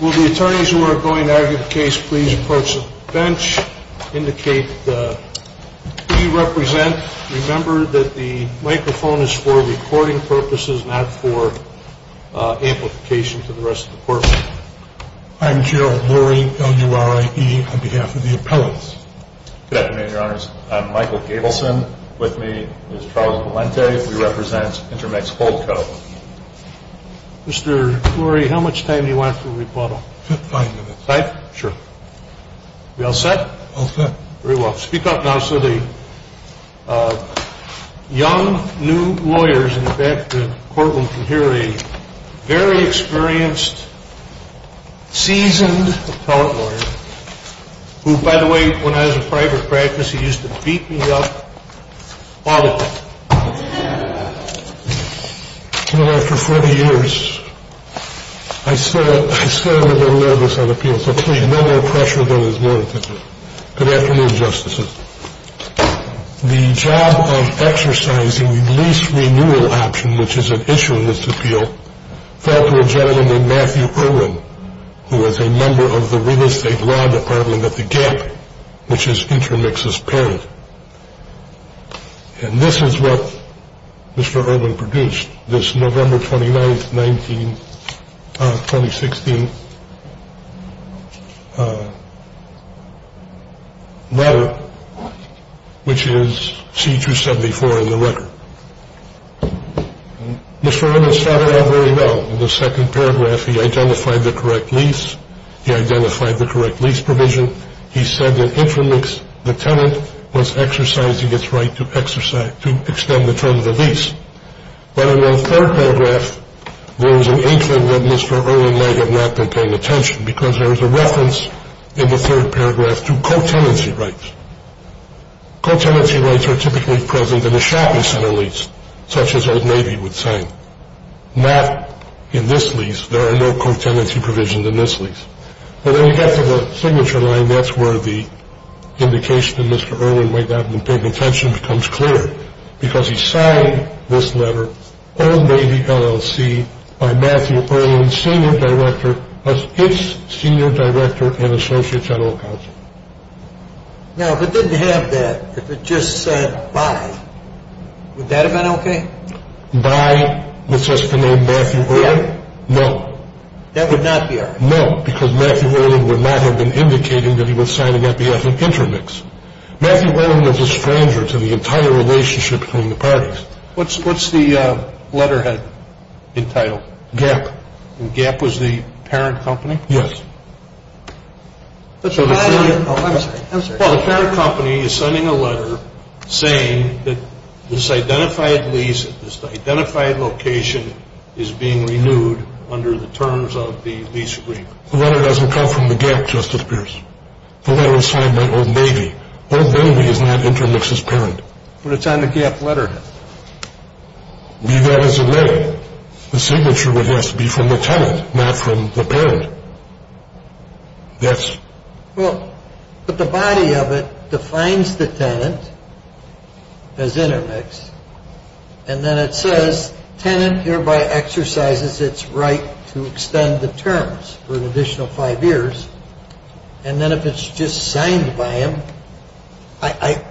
Will the attorneys who are going to argue the case please approach the bench, indicate who you represent. Remember that the microphone is for recording purposes, not for amplification to the rest of the courtroom. I'm Gerald Lurie, L-U-R-I-E, on behalf of the appellants. Good afternoon, your honors. I'm Michael Gabelson. With me is Charles Valente. We represent Intermix Holdco. Mr. Lurie, how much time do you want for the rebuttal? Five minutes. Five? Sure. We all set? All set. Very well. Speak up now so the young, new lawyers in the back of the courtroom can hear a very experienced, seasoned appellant lawyer, who, by the way, when I was in private practice, he used to beat me up all the time. Well, after 40 years, I still am a little nervous on appeal, so please, no more pressure than is warranted. Good afternoon, justices. The job of exercising lease renewal option, which is an issue in this appeal, fell to a gentleman named Matthew Irwin, who was a member of the real estate law department at the Gap, which is Intermix's parent. And this is what Mr. Irwin produced, this November 29th, 2016 letter, which is C-274 in the record. Mr. Irwin saw it all very well. In the second paragraph, he identified the correct lease. He identified the correct lease provision. He said that Intermix, the tenant, was exercising its right to extend the term of the lease. But in the third paragraph, there was an inkling that Mr. Irwin might have not been paying attention because there is a reference in the third paragraph to co-tenancy rights. Co-tenancy rights are typically present in a shopping center lease, such as Old Navy would say. Not in this lease. There are no co-tenancy provisions in this lease. But when you get to the signature line, that's where the indication that Mr. Irwin might not have been paying attention becomes clear because he signed this letter, Old Navy LLC, by Matthew Irwin, Senior Director, as its Senior Director and Associate General Counsel. Now, if it didn't have that, if it just said by, would that have been okay? By, with just the name Matthew Irwin? No. That would not be all right? No, because Matthew Irwin would not have been indicating that he was signing on behalf of Intermix. Matthew Irwin was a stranger to the entire relationship between the parties. What's the letterhead entitled? GAP. And GAP was the parent company? Yes. I'm sorry. I'm sorry. Well, the parent company is sending a letter saying that this identified lease, this identified location is being renewed under the terms of the lease agreement. The letter doesn't come from the GAP, Justice Pierce. The letter is signed by Old Navy. Old Navy is not Intermix's parent. But it's on the GAP letterhead. Be that as it may, the signature would have to be from the tenant, not from the parent. Yes. Well, but the body of it defines the tenant as Intermix. And then it says, tenant hereby exercises its right to extend the terms for an additional five years. And then if it's just signed by him, I,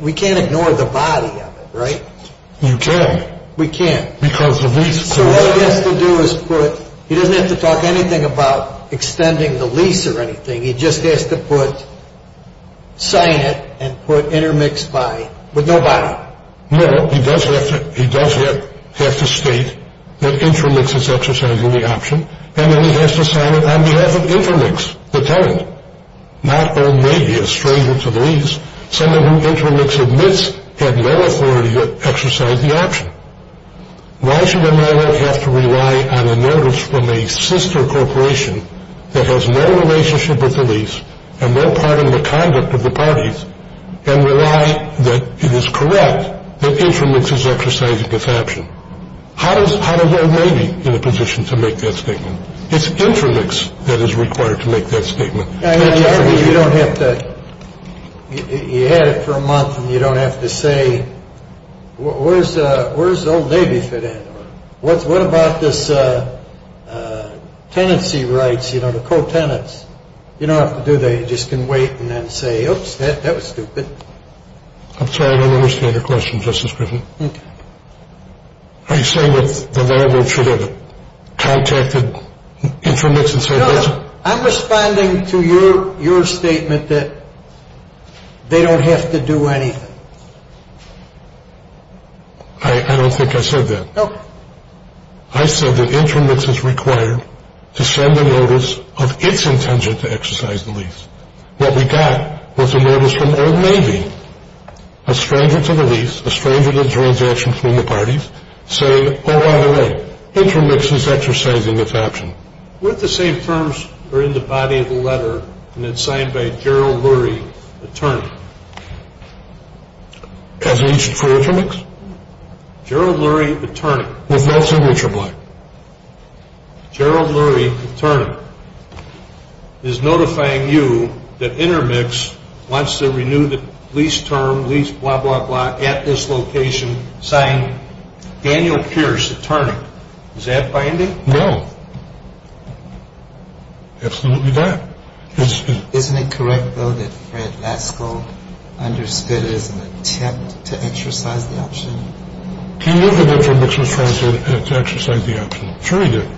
we can't ignore the body of it, right? You can't. We can't. Because of lease clause. So what he has to do is put, he doesn't have to talk anything about extending the lease or anything. He just has to put, sign it and put Intermix by, with no body. No. He does have to, he does have to state that Intermix is exercising the option. And then he has to sign it on behalf of Intermix, the tenant. Not Old Navy, a stranger to the lease. Someone who Intermix admits had no authority to exercise the option. Why should an owner have to rely on a notice from a sister corporation that has no relationship with the lease and no part in the conduct of the parties and rely that it is correct that Intermix is exercising this option? How does Old Navy get a position to make that statement? It's Intermix that is required to make that statement. You don't have to, you had it for a month and you don't have to say, where does Old Navy fit in? What about this tenancy rights, you know, the co-tenants? You don't have to do that. You just can wait and then say, oops, that was stupid. I'm sorry, I don't understand your question, Justice Griffin. Are you saying that the landlord should have contacted Intermix and said, No, no, I'm responding to your statement that they don't have to do anything. I don't think I said that. I said that Intermix is required to send a notice of its intention to exercise the lease. What we got was a notice from Old Navy, a stranger to the lease, a stranger to the transaction from the parties, saying, oh, by the way, Intermix is exercising its option. What if the same terms are in the body of the letter and it's signed by Gerald Lurie, attorney? As an issue for Intermix? Gerald Lurie, attorney. With Nelson Richard Black. Gerald Lurie, attorney, is notifying you that Intermix wants to renew the lease term, lease blah, blah, blah, at this location signed Daniel Pierce, attorney. Is that binding? No. Absolutely not. Isn't it correct, though, that Fred Lasko understood it as an attempt to exercise the option? He knew Intermix was trying to exercise the option. Sure he did.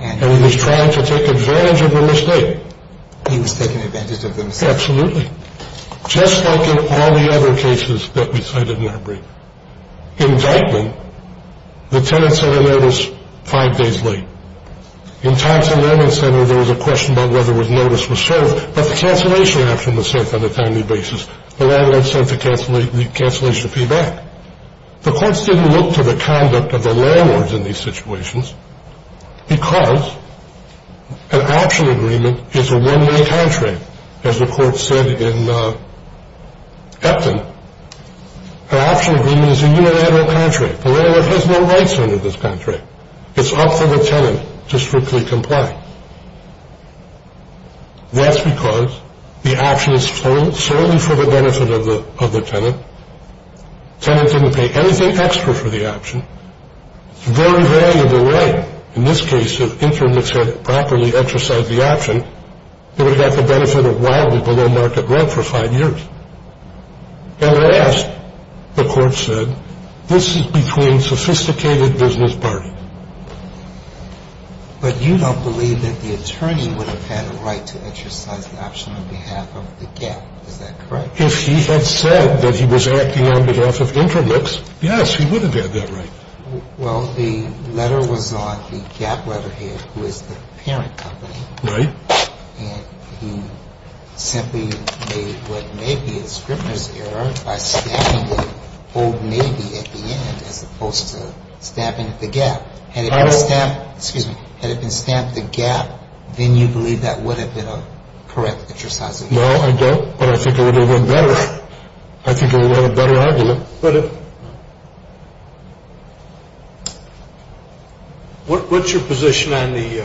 And he was trying to take advantage of the mistake. He was taking advantage of the mistake. Absolutely. Just like in all the other cases that we cited in our brief. Indictment, the tenant said a notice five days late. In Thompson Land and Center, there was a question about whether a notice was served, but the cancellation action was served on a timely basis. The landlord sent the cancellation fee back. The courts didn't look to the conduct of the landlords in these situations because an option agreement is a one-way contract, as the court said in Epton. An option agreement is a unilateral contract. The landlord has no rights under this contract. It's up to the tenant to strictly comply. That's because the option is solely for the benefit of the tenant. The tenant didn't pay anything extra for the option. It's a very valuable right. In this case, if Intermix had properly exercised the option, it would have had the benefit of wildly below market rent for five years. At last, the court said, this is between sophisticated business parties. But you don't believe that the attorney would have had a right to exercise the option on behalf of the gap. Is that correct? If he had said that he was acting on behalf of Intermix, yes, he would have had that right. Well, the letter was on the gap letterhead, who is the parent company. Right. And he simply made what may be a scrivener's error by stamping the old maybe at the end, as opposed to stamping the gap. Had it been stamped, excuse me, had it been stamped the gap, then you believe that would have been a correct exercise of the option. No, I don't. But I think it would have been better. I think it would have been a better argument. What's your position on the,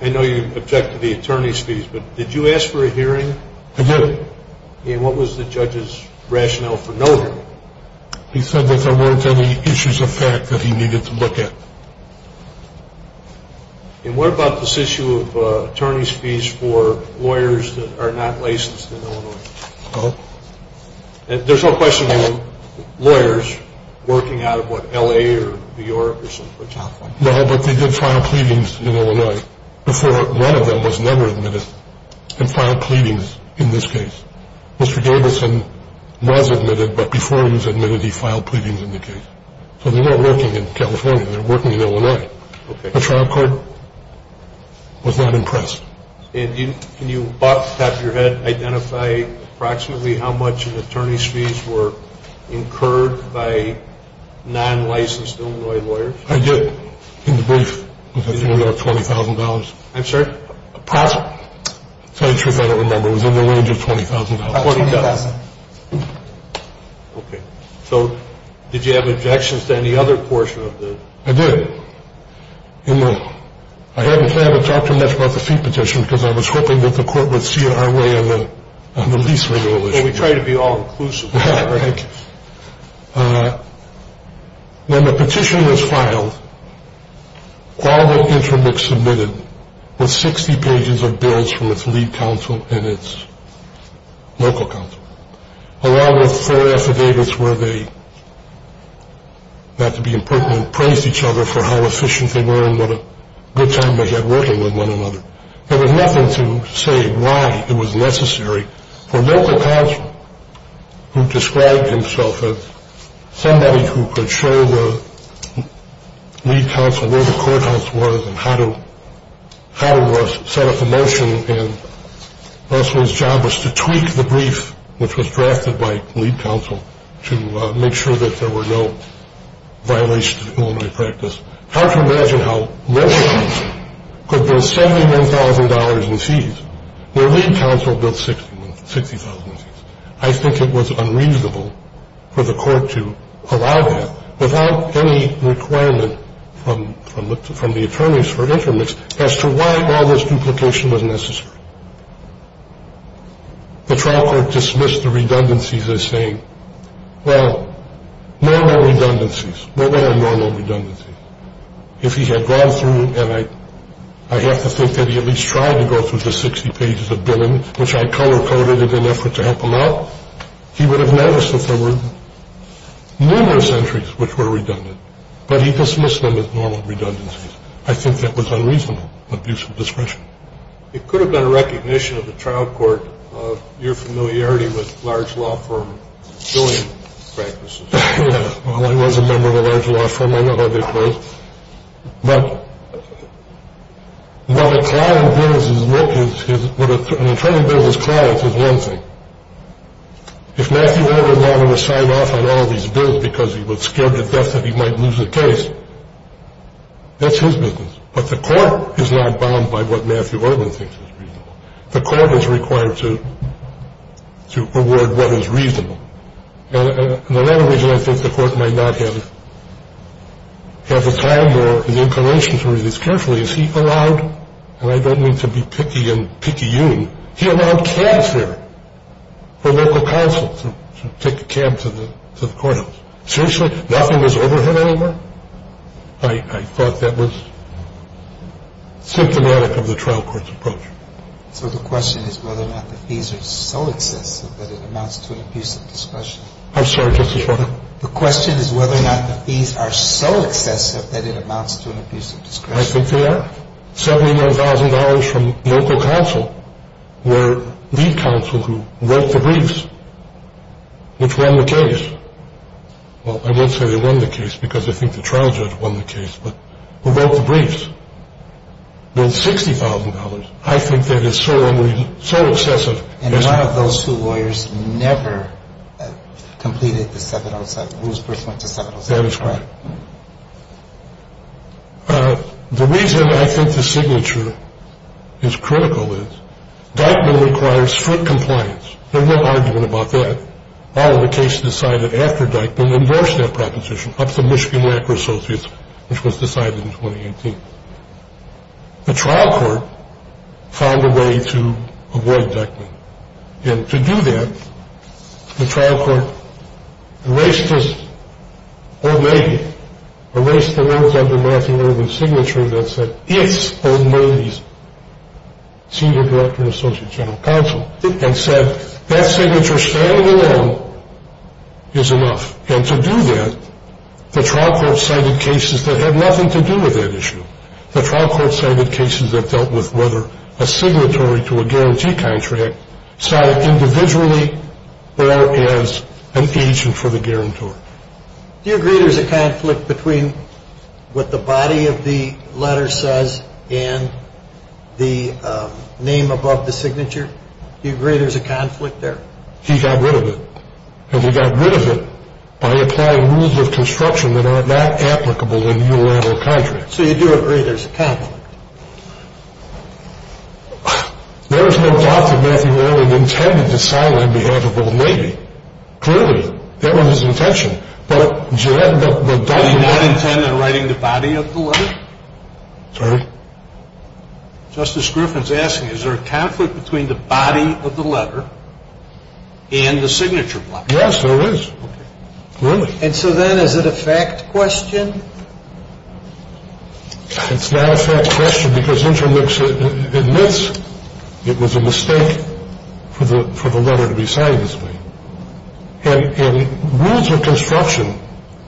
I know you object to the attorney's fees, but did you ask for a hearing? I did. And what was the judge's rationale for no hearing? He said that there weren't any issues of fact that he needed to look at. And what about this issue of attorney's fees for lawyers that are not licensed in Illinois? There's no question of lawyers working out of, what, L.A. or New York or California? No, but they did file pleadings in Illinois. Before, one of them was never admitted and filed pleadings in this case. Mr. Gabelson was admitted, but before he was admitted, he filed pleadings in the case. So they weren't working in California. They were working in Illinois. Okay. The trial court was not impressed. And can you, off the top of your head, identify approximately how much of attorney's fees were incurred by non-licensed Illinois lawyers? I did. In the brief, it was $20,000. I'm sorry? Approximately. To tell you the truth, I don't remember. It was in the range of $20,000. $20,000. Okay. So did you have objections to any other portion of the? I did. I hadn't planned to talk too much about the fee petition because I was hoping that the court would see our way on the lease renewal issue. Well, we try to be all-inclusive. Thank you. When the petition was filed, Qualified Interim was submitted with 60 pages of bills from its lead counsel and its local counsel, along with four affidavits where they, not to be impertinent, praised each other for how efficient they were and what a good time they had working with one another. There was nothing to say why it was necessary for local counsel, who described himself as somebody who could show the lead counsel where the courthouse was and how to set up a motion, and Russell's job was to tweak the brief, which was drafted by lead counsel, to make sure that there were no violations of preliminary practice. It's hard to imagine how local counsel could build $71,000 in fees where lead counsel built $60,000 in fees. I think it was unreasonable for the court to allow that without any requirement from the attorneys for intermix as to why all this duplication was necessary. The trial court dismissed the redundancies as saying, well, normal redundancies. What are normal redundancies? If he had gone through, and I have to think that he at least tried to go through the 60 pages of billing, which I color-coded in an effort to help him out, he would have noticed that there were numerous entries which were redundant, but he dismissed them as normal redundancies. I think that was unreasonable abuse of discretion. It could have been a recognition of the trial court of your familiarity with large law firms doing practices. Yeah, well, I was a member of a large law firm. I know how they're closed. But what an attorney does as clients is one thing. If Matthew Ervin wanted to sign off on all of these bills because he was scared to death that he might lose the case, that's his business. But the court is not bound by what Matthew Ervin thinks is reasonable. The court is required to award what is reasonable. In the latter region, I think the court might not have the time or the inclination to read this carefully. Is he allowed, and I don't mean to be picky and picky-oon, he allowed cabs there for local counsel to take a cab to the courthouse. Seriously? Nothing was overhead anymore? I thought that was symptomatic of the trial court's approach. So the question is whether or not the fees are so excessive that it amounts to an abuse of discretion. I'm sorry, Justice Breyer. The question is whether or not the fees are so excessive that it amounts to an abuse of discretion. I think they are. $79,000 from local counsel were the counsel who wrote the briefs, which won the case. Well, I won't say they won the case because I think the trial judge won the case, but who wrote the briefs. Well, $60,000, I think that is so excessive. And one of those two lawyers never completed the 707. Whose brief went to 707? That is correct. The reason I think the signature is critical is Dyckman requires foot compliance. There's no argument about that. The trial court found a way to avoid Dyckman. And to do that, the trial court erased his signature that said, Senior Director and Associate General Counsel, and said that signature standing alone is enough. And to do that, the trial court cited cases that had nothing to do with that issue. The trial court cited cases that dealt with whether a signatory to a guarantee contract cited individually or as an agent for the guarantor. Do you agree there's a conflict between what the body of the letter says and the name above the signature? Do you agree there's a conflict there? He got rid of it. And he got rid of it by applying rules of construction that are not applicable in unilateral contracts. So you do agree there's a conflict. There is no doubt that Matthew Oehling intended to silent on behalf of both Navy. Clearly, that was his intention. But, Jed, the body of the letter. Did he not intend on writing the body of the letter? Sorry? Justice Griffin is asking, is there a conflict between the body of the letter and the signature block? Yes, there is. Okay. Clearly. And so then is it a fact question? It's not a fact question because Intermix admits it was a mistake for the letter to be signed this way. And rules of construction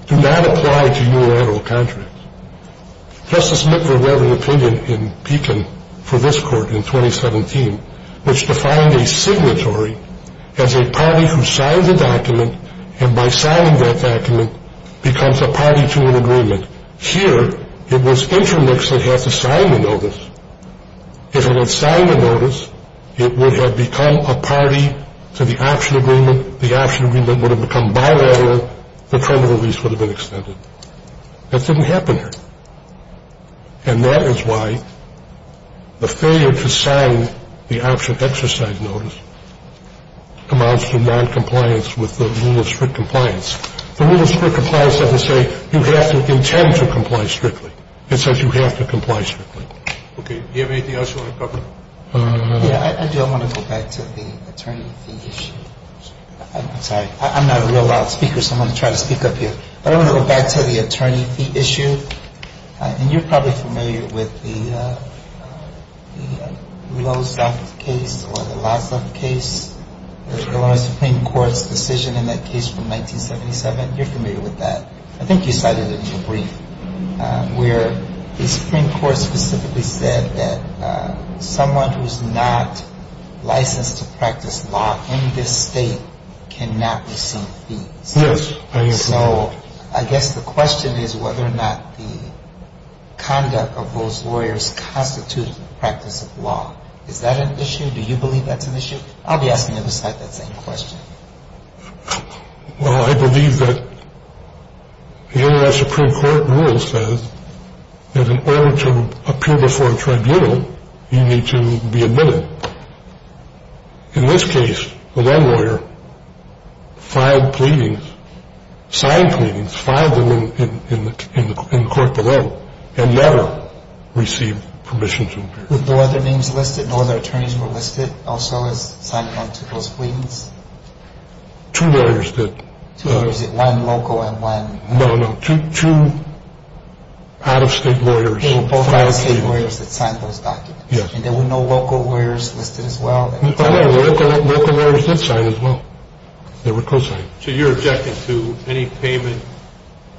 do not apply to unilateral contracts. Justice Mitver wrote an opinion in Beacon for this court in 2017, which defined a signatory as a party who signs a document, and by signing that document becomes a party to an agreement. Here, it was Intermix that had to sign the notice. If it had signed the notice, it would have become a party to the option agreement. The option agreement would have become bilateral. The term of release would have been extended. That didn't happen here. And that is why the failure to sign the option exercise notice amounts to noncompliance with the rule of strict compliance. The rule of strict compliance doesn't say you have to intend to comply strictly. It says you have to comply strictly. Okay. Do you have anything else you want to cover? Yeah, I do. I want to go back to the attorney fee issue. I'm sorry. I'm not a real loud speaker, so I'm going to try to speak up here. But I want to go back to the attorney fee issue. And you're probably familiar with the low theft case or the law theft case, the Illinois Supreme Court's decision in that case from 1977. You're familiar with that. I think you cited it in your brief, where the Supreme Court specifically said that someone who's not licensed to practice law in this state cannot receive fees. Yes. So I guess the question is whether or not the conduct of those lawyers constitutes the practice of law. Is that an issue? Do you believe that's an issue? I'll be asking you the same question. Well, I believe that the Illinois Supreme Court rule says that in order to appear before a tribunal, you need to be admitted. In this case, the one lawyer filed pleadings, signed pleadings, filed them in court below, and never received permission to appear. Were no other names listed? No other attorneys were listed also as signed on to those pleadings? Two lawyers did. Two lawyers, one local and one... No, no, two out-of-state lawyers. Both out-of-state lawyers that signed those documents. Yes. And there were no local lawyers listed as well? No, local lawyers did sign as well. They were co-signed. So you're objecting to any payment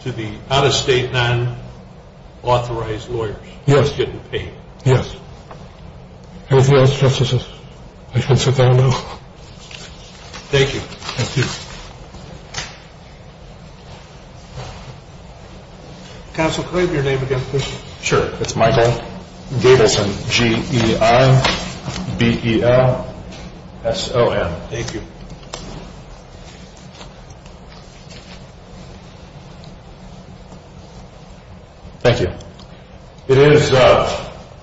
to the out-of-state non-authorized lawyers? Yes. Just getting paid? Yes. Anything else, Justices? I can sit down now. Thank you. Thank you. Counsel, could I have your name again, please? Sure. It's Michael Gabelson, G-E-I-B-E-L-S-O-N. Thank you. Thank you. It is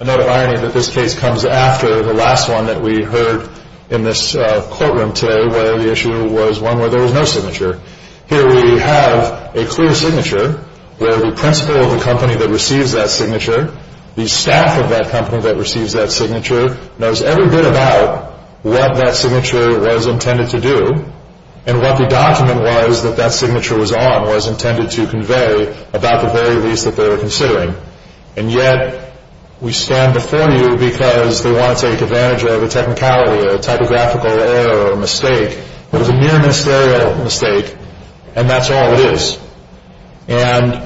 another irony that this case comes after the last one that we heard in this courtroom today, where the issue was one where there was no signature. Here we have a clear signature where the principal of the company that receives that signature, the staff of that company that receives that signature, knows every bit about what that signature was intended to do and what the document was that that signature was on, was intended to convey about the very lease that they were considering. And yet we stand before you because they want to take advantage of a technicality, a typographical error, a mistake. It was a mere ministerial mistake, and that's all it is. And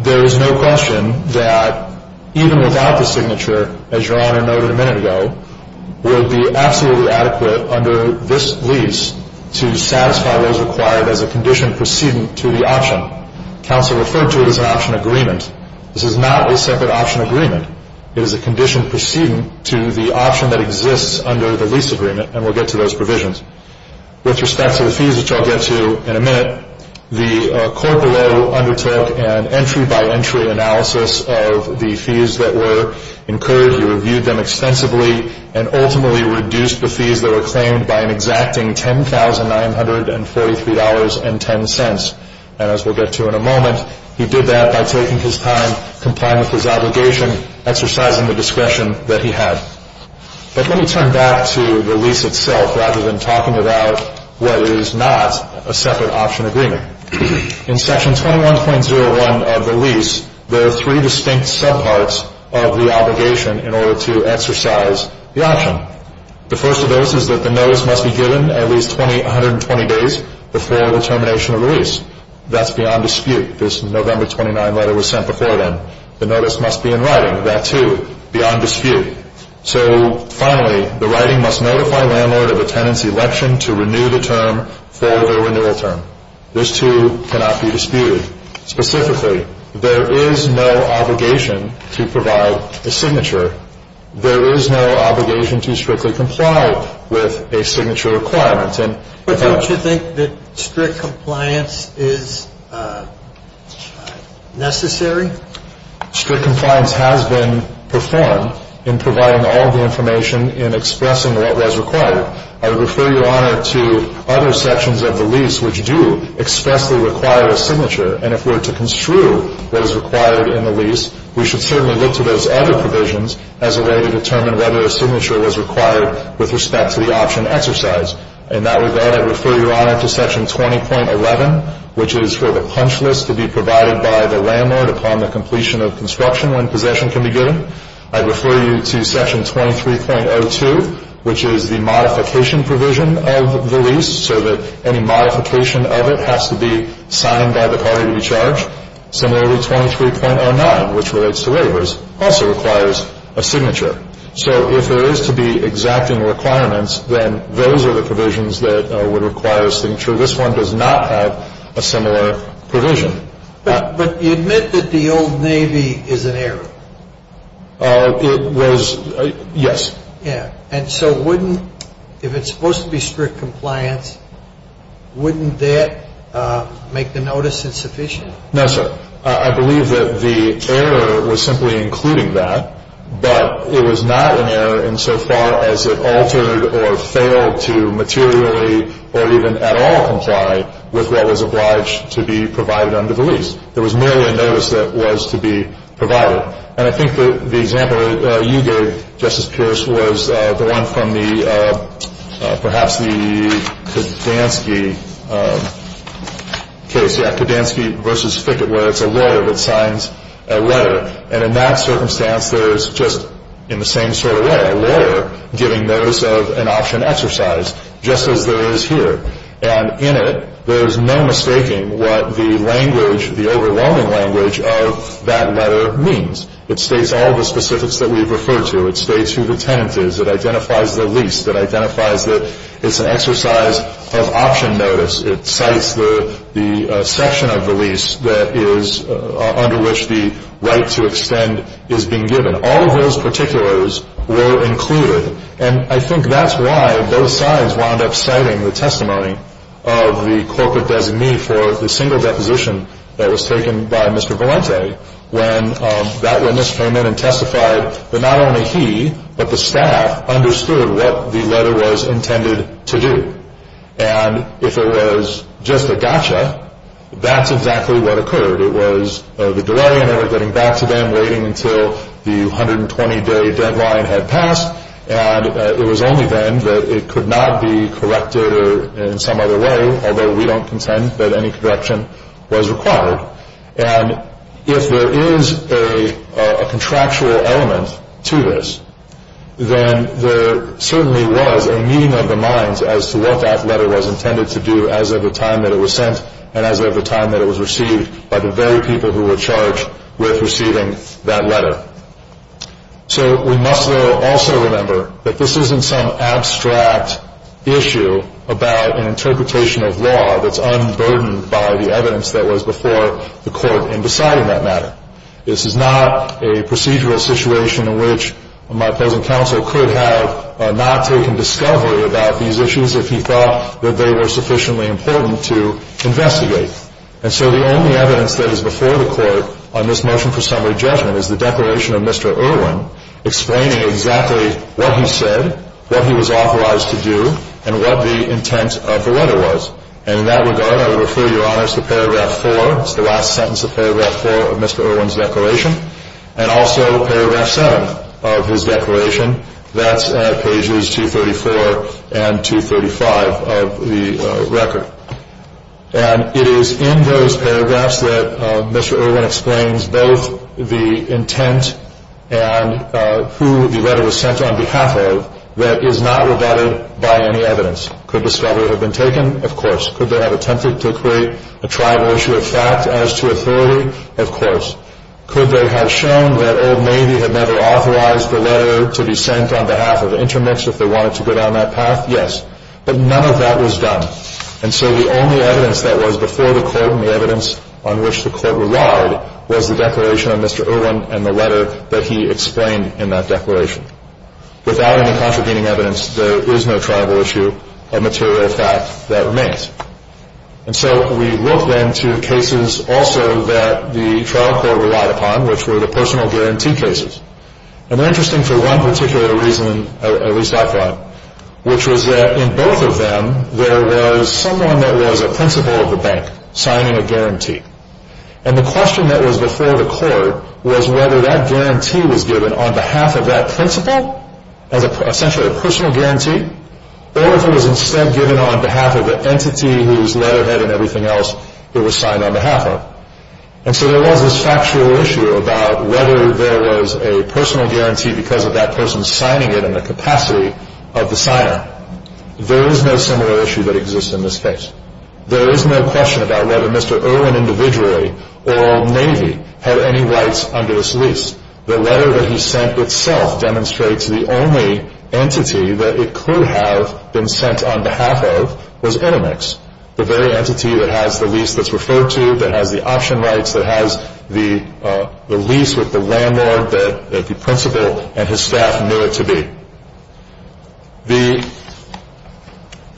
there is no question that even without the signature, as Your Honor noted a minute ago, would be absolutely adequate under this lease to satisfy those required as a condition precedent to the option. Counsel referred to it as an option agreement. This is not a separate option agreement. It is a condition precedent to the option that exists under the lease agreement, and we'll get to those provisions. With respect to the fees, which I'll get to in a minute, the court below undertook an entry-by-entry analysis of the fees that were incurred. He reviewed them extensively and ultimately reduced the fees that were claimed by an exacting $10,943.10. And as we'll get to in a moment, he did that by taking his time, complying with his obligation, exercising the discretion that he had. But let me turn back to the lease itself rather than talking about what is not a separate option agreement. In Section 21.01 of the lease, there are three distinct subparts of the obligation in order to exercise the option. The first of those is that the notice must be given at least 120 days before the termination of the lease. That's beyond dispute. This November 29 letter was sent before then. The notice must be in writing. Beyond dispute. So finally, the writing must notify landlord of attendance election to renew the term for the renewal term. Those two cannot be disputed. Specifically, there is no obligation to provide a signature. There is no obligation to strictly comply with a signature requirement. But don't you think that strict compliance is necessary? Strict compliance has been performed in providing all the information in expressing what was required. I would refer your honor to other sections of the lease which do expressly require a signature. And if we're to construe what is required in the lease, we should certainly look to those other provisions as a way to determine whether a signature was required with respect to the option exercise. In that regard, I'd refer your honor to section 20.11, which is for the punch list to be provided by the landlord upon the completion of construction when possession can be given. I'd refer you to section 23.02, which is the modification provision of the lease, so that any modification of it has to be signed by the party to be charged. Similarly, 23.09, which relates to waivers, also requires a signature. So if there is to be exacting requirements, then those are the provisions that would require a signature. This one does not have a similar provision. But you admit that the Old Navy is an error. It was, yes. Yeah. And so wouldn't, if it's supposed to be strict compliance, wouldn't that make the notice insufficient? No, sir. I believe that the error was simply including that, but it was not an error insofar as it altered or failed to materially or even at all comply with what was obliged to be provided under the lease. There was merely a notice that was to be provided. And I think that the example you gave, Justice Pierce, was the one from the, perhaps the Kodansky case. Jack Kodansky v. Fickett, where it's a lawyer that signs a letter. And in that circumstance, there's just, in the same sort of way, a lawyer giving notice of an option exercise, just as there is here. And in it, there's no mistaking what the language, the overwhelming language of that letter means. It states all the specifics that we've referred to. It states who the tenant is. It identifies the lease. It identifies that it's an exercise of option notice. It cites the section of the lease that is under which the right to extend is being given. All of those particulars were included. And I think that's why both sides wound up citing the testimony of the corporate designee for the single deposition that was taken by Mr. Valente, when that witness came in and testified that not only he, but the staff, understood what the letter was intended to do. And if it was just a gotcha, that's exactly what occurred. It was the delay in ever getting back to them, waiting until the 120-day deadline had passed. And it was only then that it could not be corrected in some other way, although we don't contend that any correction was required. And if there is a contractual element to this, then there certainly was a meeting of the minds as to what that letter was intended to do as of the time that it was sent and as of the time that it was received by the very people who were charged with receiving that letter. So we must, though, also remember that this isn't some abstract issue about an interpretation of law that's unburdened by the evidence that was before the court in deciding that matter. This is not a procedural situation in which my opposing counsel could have not taken discovery about these issues if he thought that they were sufficiently important to investigate. And so the only evidence that is before the court on this motion for summary judgment is the declaration of Mr. Irwin, explaining exactly what he said, what he was authorized to do, and what the intent of the letter was. And in that regard, I would refer Your Honor to Paragraph 4. It's the last sentence of Paragraph 4 of Mr. Irwin's declaration, and also Paragraph 7 of his declaration. That's at pages 234 and 235 of the record. And it is in those paragraphs that Mr. Irwin explains both the intent and who the letter was sent on behalf of that is not regarded by any evidence. Could discovery have been taken? Of course. Could they have attempted to create a tribal issue of fact as to authority? Of course. Could they have shown that Old Navy had never authorized the letter to be sent on behalf of the intermix if they wanted to go down that path? Yes. But none of that was done. And so the only evidence that was before the court and the evidence on which the court relied was the declaration of Mr. Irwin and the letter that he explained in that declaration. Without any contravening evidence, there is no tribal issue of material fact that remains. And so we look then to cases also that the trial court relied upon, which were the personal guarantee cases. And they're interesting for one particular reason, at least I thought, which was that in both of them, there was someone that was a principal of the bank signing a guarantee. And the question that was before the court was whether that guarantee was given on behalf of that principal, as essentially a personal guarantee, or if it was instead given on behalf of the entity whose letterhead and everything else it was signed on behalf of. And so there was this factual issue about whether there was a personal guarantee because of that person signing it in the capacity of the signer. There is no similar issue that exists in this case. There is no question about whether Mr. Irwin individually or Old Navy had any rights under this lease. The letter that he sent itself demonstrates the only entity that it could have been sent on behalf of was intermix, the very entity that has the lease that's referred to, that has the option rights, that has the lease with the landlord that the principal and his staff knew it to be.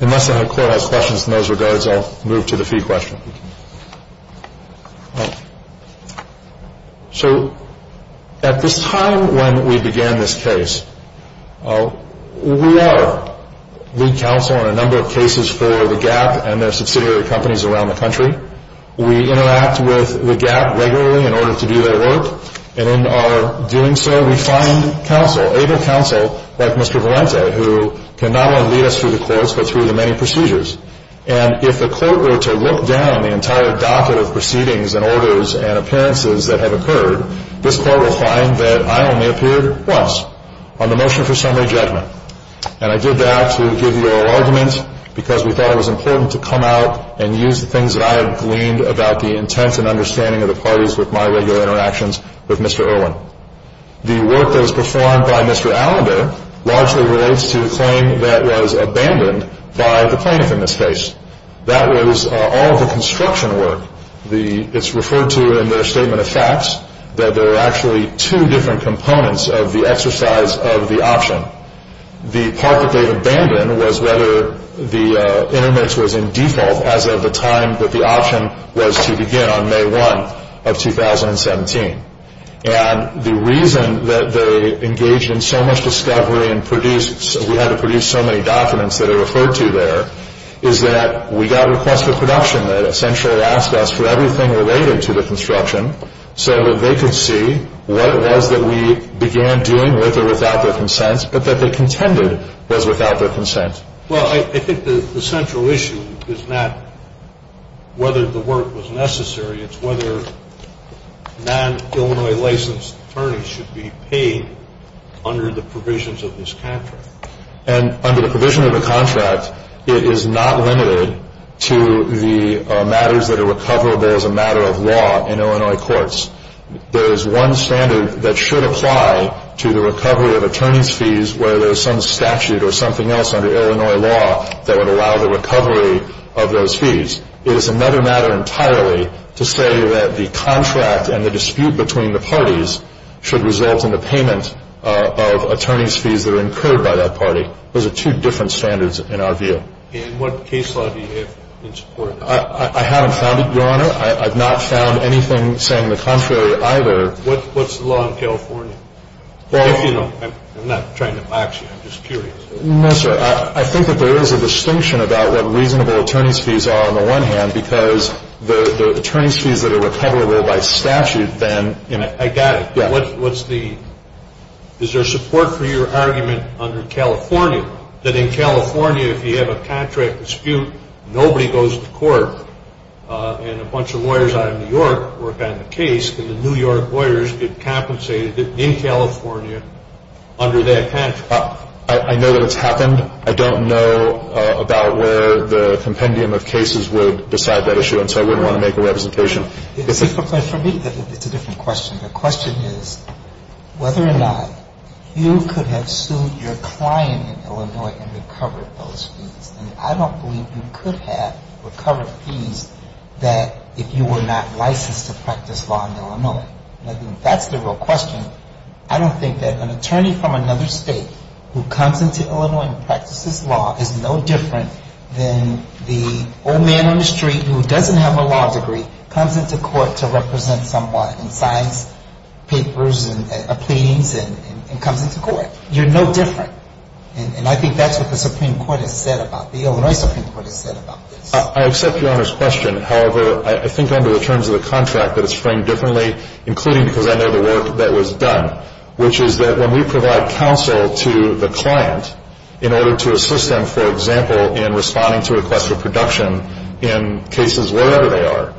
Unless the court has questions in those regards, I'll move to the fee question. So at this time when we began this case, we are lead counsel on a number of cases for the Gap and their subsidiary companies around the country. We interact with the Gap regularly in order to do their work. And in our doing so, we find counsel, able counsel like Mr. Valente, who can not only lead us through the courts but through the many procedures. And if the court were to look down the entire docket of proceedings and orders and appearances that have occurred, this court will find that I only appeared once on the motion for summary judgment. And I did that to give you an argument because we thought it was important to come out and use the things that I have gleaned about the intent and understanding of the parties with my regular interactions with Mr. Irwin. The work that was performed by Mr. Allender largely relates to the claim that was abandoned by the plaintiff in this case. That was all of the construction work. It's referred to in their statement of facts that there are actually two different components of the exercise of the option. The part that they've abandoned was whether the intermix was in default as of the time that the option was to begin on May 1 of 2017. And the reason that they engaged in so much discovery and produced, we had to produce so many documents that are referred to there, is that we got requests for production that essentially asked us for everything related to the construction so that they could see what it was that we began doing with or without their consent, but that they contended was without their consent. Well, I think the central issue is not whether the work was necessary. It's whether non-Illinois licensed attorneys should be paid under the provisions of this contract. And under the provision of the contract, it is not limited to the matters that are recoverable as a matter of law in Illinois courts. There is one standard that should apply to the recovery of attorney's fees where there's some statute or something else under Illinois law that would allow the recovery of those fees. It is another matter entirely to say that the contract and the dispute between the parties should result in the payment of attorney's fees that are incurred by that party. Those are two different standards in our view. And what case law do you have in support? I haven't found it, Your Honor. I've not found anything saying the contrary either. What's the law in California? I'm not trying to box you. I'm just curious. No, sir. I think that there is a distinction about what reasonable attorney's fees are on the one hand because the attorney's fees that are recoverable by statute then... I got it. Yeah. Is there support for your argument under California that in California if you have a contract dispute, nobody goes to court and a bunch of lawyers out of New York work on the case, and the New York lawyers get compensated in California under that contract? I know that it's happened. I don't know about where the compendium of cases would decide that issue, and so I wouldn't want to make a representation. But for me, it's a different question. The question is whether or not you could have sued your client in Illinois and recovered those fees. And I don't believe you could have recovered fees that if you were not licensed to practice law in Illinois. And I think that's the real question. I don't think that an attorney from another state who comes into Illinois and practices law is no different than the old man on the street who doesn't have a law degree, comes into court to represent someone and signs papers and pleadings and comes into court. You're no different. And I think that's what the Supreme Court has said about this. The Illinois Supreme Court has said about this. I accept Your Honor's question. However, I think under the terms of the contract that it's framed differently, including because I know the work that was done, which is that when we provide counsel to the client in order to assist them, for example, in responding to a request for production in cases wherever they are,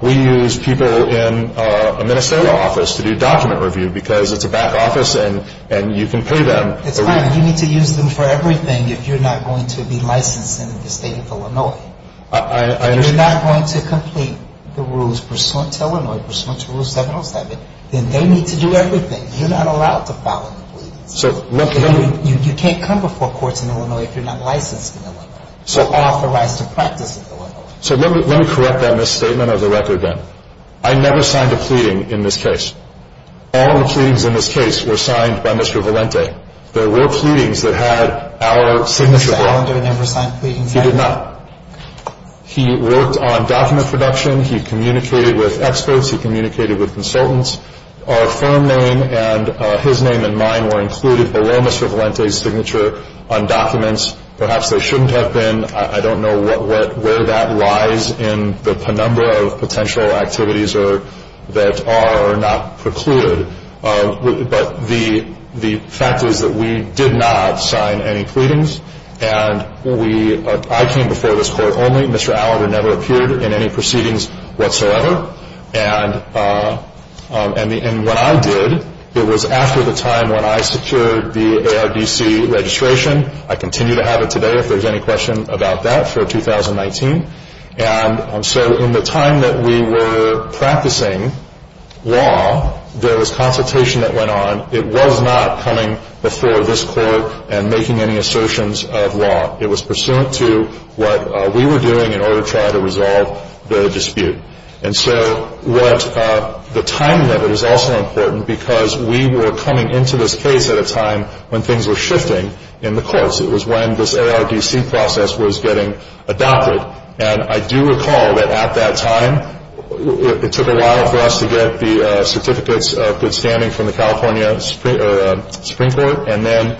we use people in a ministerial office to do document review because it's a back office and you can pay them. It's fine. You need to use them for everything if you're not going to be licensed in the state of Illinois. If you're not going to complete the rules pursuant to Illinois, pursuant to Rule 707, then they need to do everything. You're not allowed to file a plea. You can't come before courts in Illinois if you're not licensed in Illinois or authorized to practice in Illinois. So let me correct that misstatement of the record then. I never signed a pleading in this case. All the pleadings in this case were signed by Mr. Valente. There were pleadings that had our signature on them. Did Mr. Valente ever sign pleadings? He did not. He worked on document production. He communicated with experts. He communicated with consultants. Our firm name and his name and mine were included below Mr. Valente's signature on documents. Perhaps they shouldn't have been. I don't know where that lies in the number of potential activities that are or are not precluded. But the fact is that we did not sign any pleadings. And I came before this court only. Mr. Allender never appeared in any proceedings whatsoever. And when I did, it was after the time when I secured the ARDC registration. I continue to have it today if there's any question about that for 2019. And so in the time that we were practicing law, there was consultation that went on. It was not coming before this court and making any assertions of law. It was pursuant to what we were doing in order to try to resolve the dispute. And so what the time limit is also important because we were coming into this case at a time when things were shifting in the courts. It was when this ARDC process was getting adopted. And I do recall that at that time it took a while for us to get the certificates of good standing from the California Supreme Court and then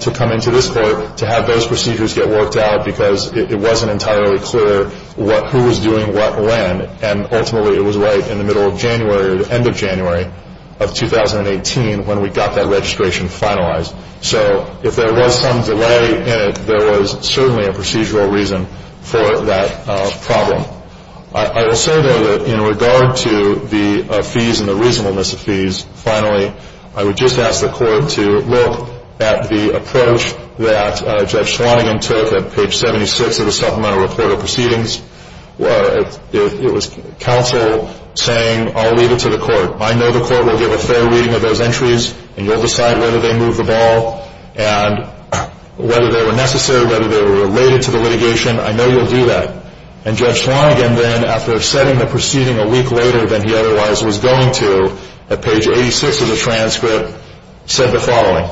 to come into this court to have those procedures get worked out because it wasn't entirely clear who was doing what when. And ultimately it was right in the middle of January or the end of January of 2018 when we got that registration finalized. So if there was some delay in it, there was certainly a procedural reason for that problem. I will say though that in regard to the fees and the reasonableness of fees, I would just ask the court to look at the approach that Judge Schwanigan took at page 76 of the Supplemental Report of Proceedings. It was counsel saying, I'll leave it to the court. I know the court will give a fair reading of those entries and you'll decide whether they move the ball. And whether they were necessary, whether they were related to the litigation, I know you'll do that. And Judge Schwanigan then, after setting the proceeding a week later than he otherwise was going to at page 86 of the transcript, said the following.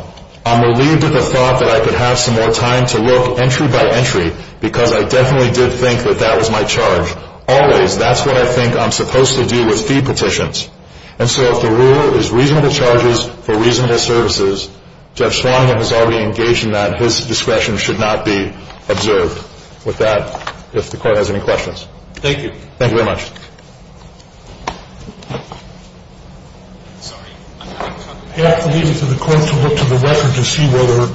I'm relieved at the thought that I could have some more time to look entry by entry because I definitely did think that that was my charge. Always, that's what I think I'm supposed to do with fee petitions. And so if the rule is reasonable charges for reasonable services, Judge Schwanigan has already engaged in that. His discretion should not be observed. With that, if the court has any questions. Thank you. Thank you very much. I have to leave it to the court to look to the record to see whether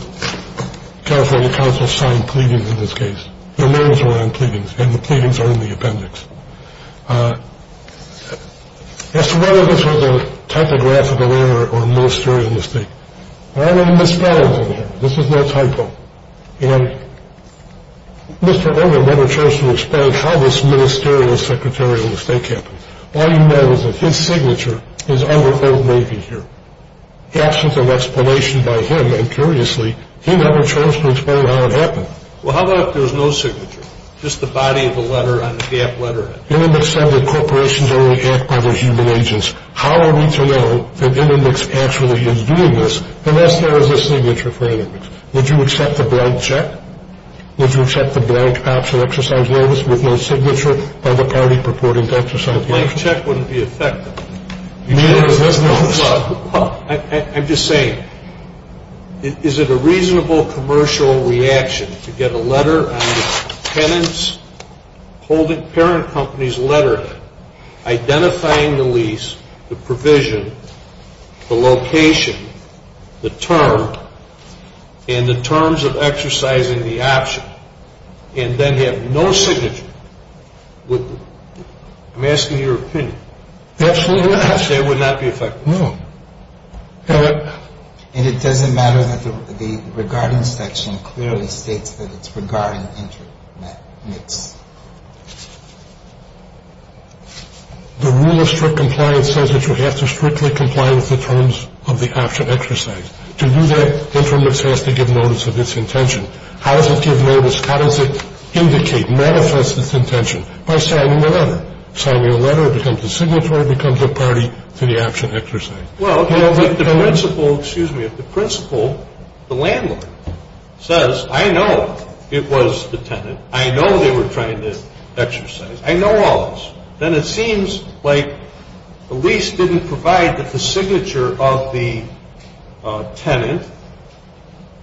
California counsel signed pleadings in this case. Their names are on pleadings and the pleadings are in the appendix. As to whether this was a typographical error or a ministerial mistake, there are no misspellings in here. This is no typo. Mr. Irwin never chose to explain how this ministerial secretarial mistake happened. All you know is that his signature is under Old Navy here. The absence of explanation by him, and curiously, he never chose to explain how it happened. Well, how about if there's no signature, just the body of the letter on the F letter? Inermix said that corporations only act by their human agents. How are we to know that Inermix actually is doing this unless there is a signature for Inermix? Would you accept a blank check? Would you accept a blank option exercise notice with no signature by the party purporting to exercise the action? A blank check wouldn't be effective. I'm just saying, is it a reasonable commercial reaction to get a letter on the tenant's parent company's letter identifying the lease, the provision, the location, the term, and the terms of exercising the action, and then have no signature? I'm asking your opinion. Absolutely not. It would not be effective? No. And it doesn't matter that the regarding section clearly states that it's regarding Intermix. The rule of strict compliance says that you have to strictly comply with the terms of the action exercise. To do that, Intermix has to give notice of its intention. How does it give notice? How does it indicate, manifest its intention? By signing the letter. Signing a letter becomes a signatory, becomes a party to the action exercise. Well, if the principal, excuse me, if the principal, the landlord, says, I know it was the tenant, I know they were trying to exercise, I know all this, then it seems like the lease didn't provide that the signature of the tenant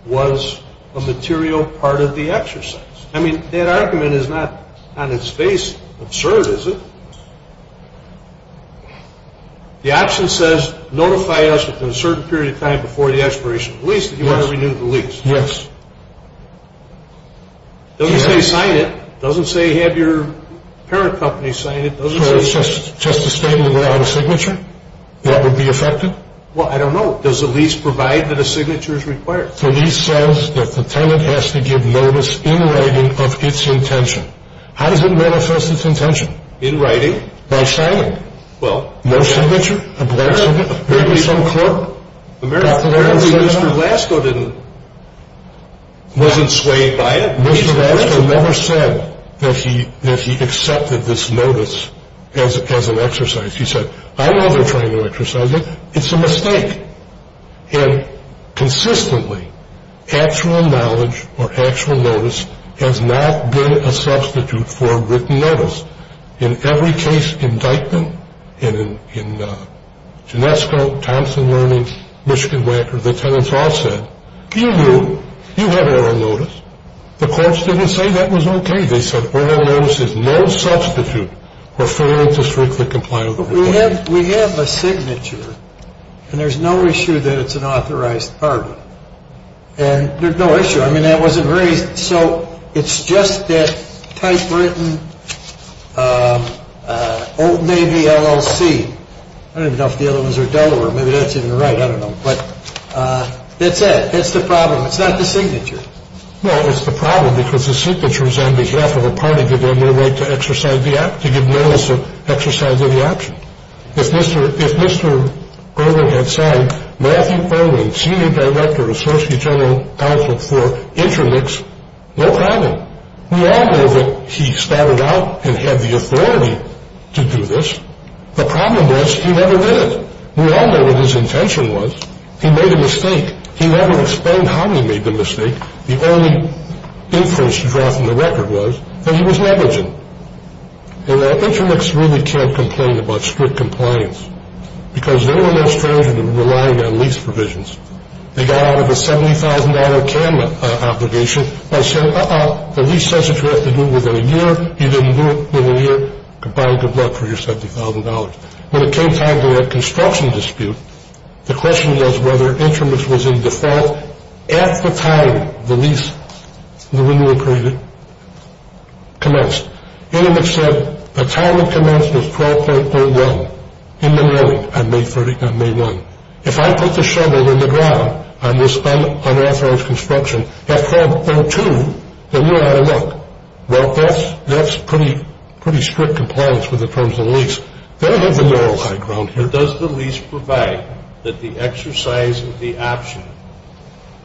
was a material part of the exercise. I mean, that argument is not, on its face, absurd, is it? The action says notify us within a certain period of time before the expiration of the lease that you want to renew the lease. Yes. It doesn't say sign it. It doesn't say have your parent company sign it. So it's just a statement without a signature that would be effective? Well, I don't know. Does the lease provide that a signature is required? The lease says that the tenant has to give notice in writing of its intention. How does it manifest its intention? In writing. By signing. Well. No signature? A blank signature? Maybe some clerk? Apparently Mr. Lasko didn't, wasn't swayed by it. Mr. Lasko never said that he accepted this notice as an exercise. He said, I know they're trying to exercise it. It's a mistake. And consistently, actual knowledge or actual notice has not been a substitute for written notice. In every case indictment, in Ginesco, Thompson Learning, Michigan Wacker, the tenants all said, you knew, you had oral notice. The courts didn't say that was okay. They said oral notice is no substitute for failing to strictly comply with the requirements. We have a signature, and there's no issue that it's an authorized apartment. And there's no issue. I mean, that wasn't raised. So it's just that typewritten maybe LLC. I don't even know if the other ones are Delaware. Maybe that's even right. I don't know. But that's it. That's the problem. It's not the signature. Well, it's the problem because the signature is on behalf of a party to give notice of exercise of the action. If Mr. Irwin had signed Matthew Irwin, Senior Director, Associate General Counsel for InterMix, no problem. We all know that he started out and had the authority to do this. The problem was he never did it. We all know what his intention was. He made a mistake. He never explained how he made the mistake. The only inference to draw from the record was that he was negligent. And InterMix really can't complain about strict compliance because they weren't as stringent in relying on lease provisions. They got out of a $70,000 TAM obligation by saying, uh-uh, the lease says that you have to do it within a year. You didn't do it within a year. Goodbye and good luck for your $70,000. When it came time to that construction dispute, the question was whether InterMix was in default. At the time the lease, the renewal period, commenced, InterMix said the time it commenced was 12.31 in the morning on May 1. If I put the shovel in the ground on this unauthorized construction at 12.32, then you're out of luck. Well, that's pretty strict compliance with the terms of the lease. Does the lease provide that the exercise of the option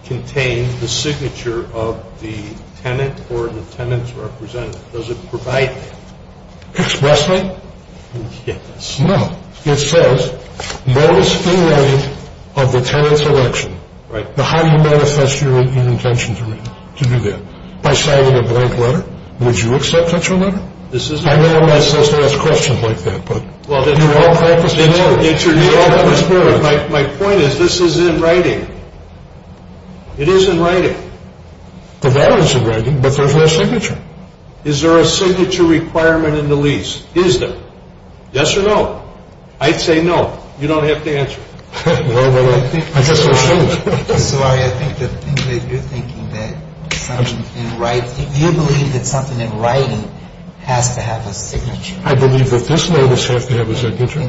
contains the signature of the tenant or the tenant's representative? Does it provide that? Expressly? Yes. No. It says notice in writing of the tenant's election. How do you manifest your intention to do that? By signing a blank letter? Would you accept such a letter? I'm not supposed to ask questions like that, but you all have a spirit. My point is this is in writing. It is in writing. The letter is in writing, but there's no signature. Is there a signature requirement in the lease? Is there? Yes or no? I'd say no. You don't have to answer. Well, I guess it shows. So I think that you're thinking that something in writing, you believe that something in writing has to have a signature. I believe that this notice has to have a signature.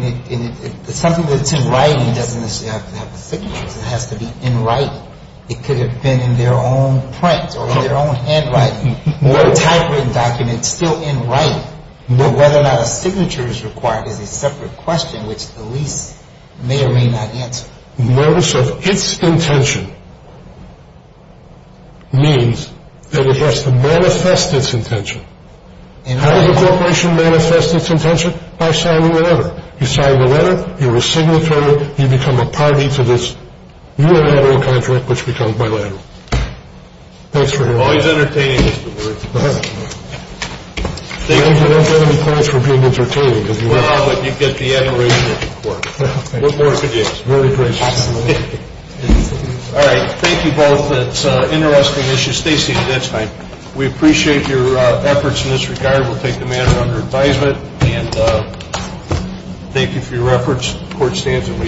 Something that's in writing doesn't necessarily have to have a signature. It has to be in writing. It could have been in their own print or in their own handwriting. The typewritten document is still in writing. Whether or not a signature is required is a separate question, which the lease may or may not answer. Notice of its intention means that it has to manifest its intention. How does a corporation manifest its intention? By signing a letter. You sign the letter. You're a signatory. You become a party to this unilateral contract, which becomes bilateral. Thanks for hearing me. Always entertaining is the word. You don't get any points for being entertaining. Well, you get the admiration of the court. Very gracious. All right. Thank you both. That's an interesting issue. Stay seated. That's fine. We appreciate your efforts in this regard. We'll take the matter under advisement. And thank you for your efforts. The court stands at lease.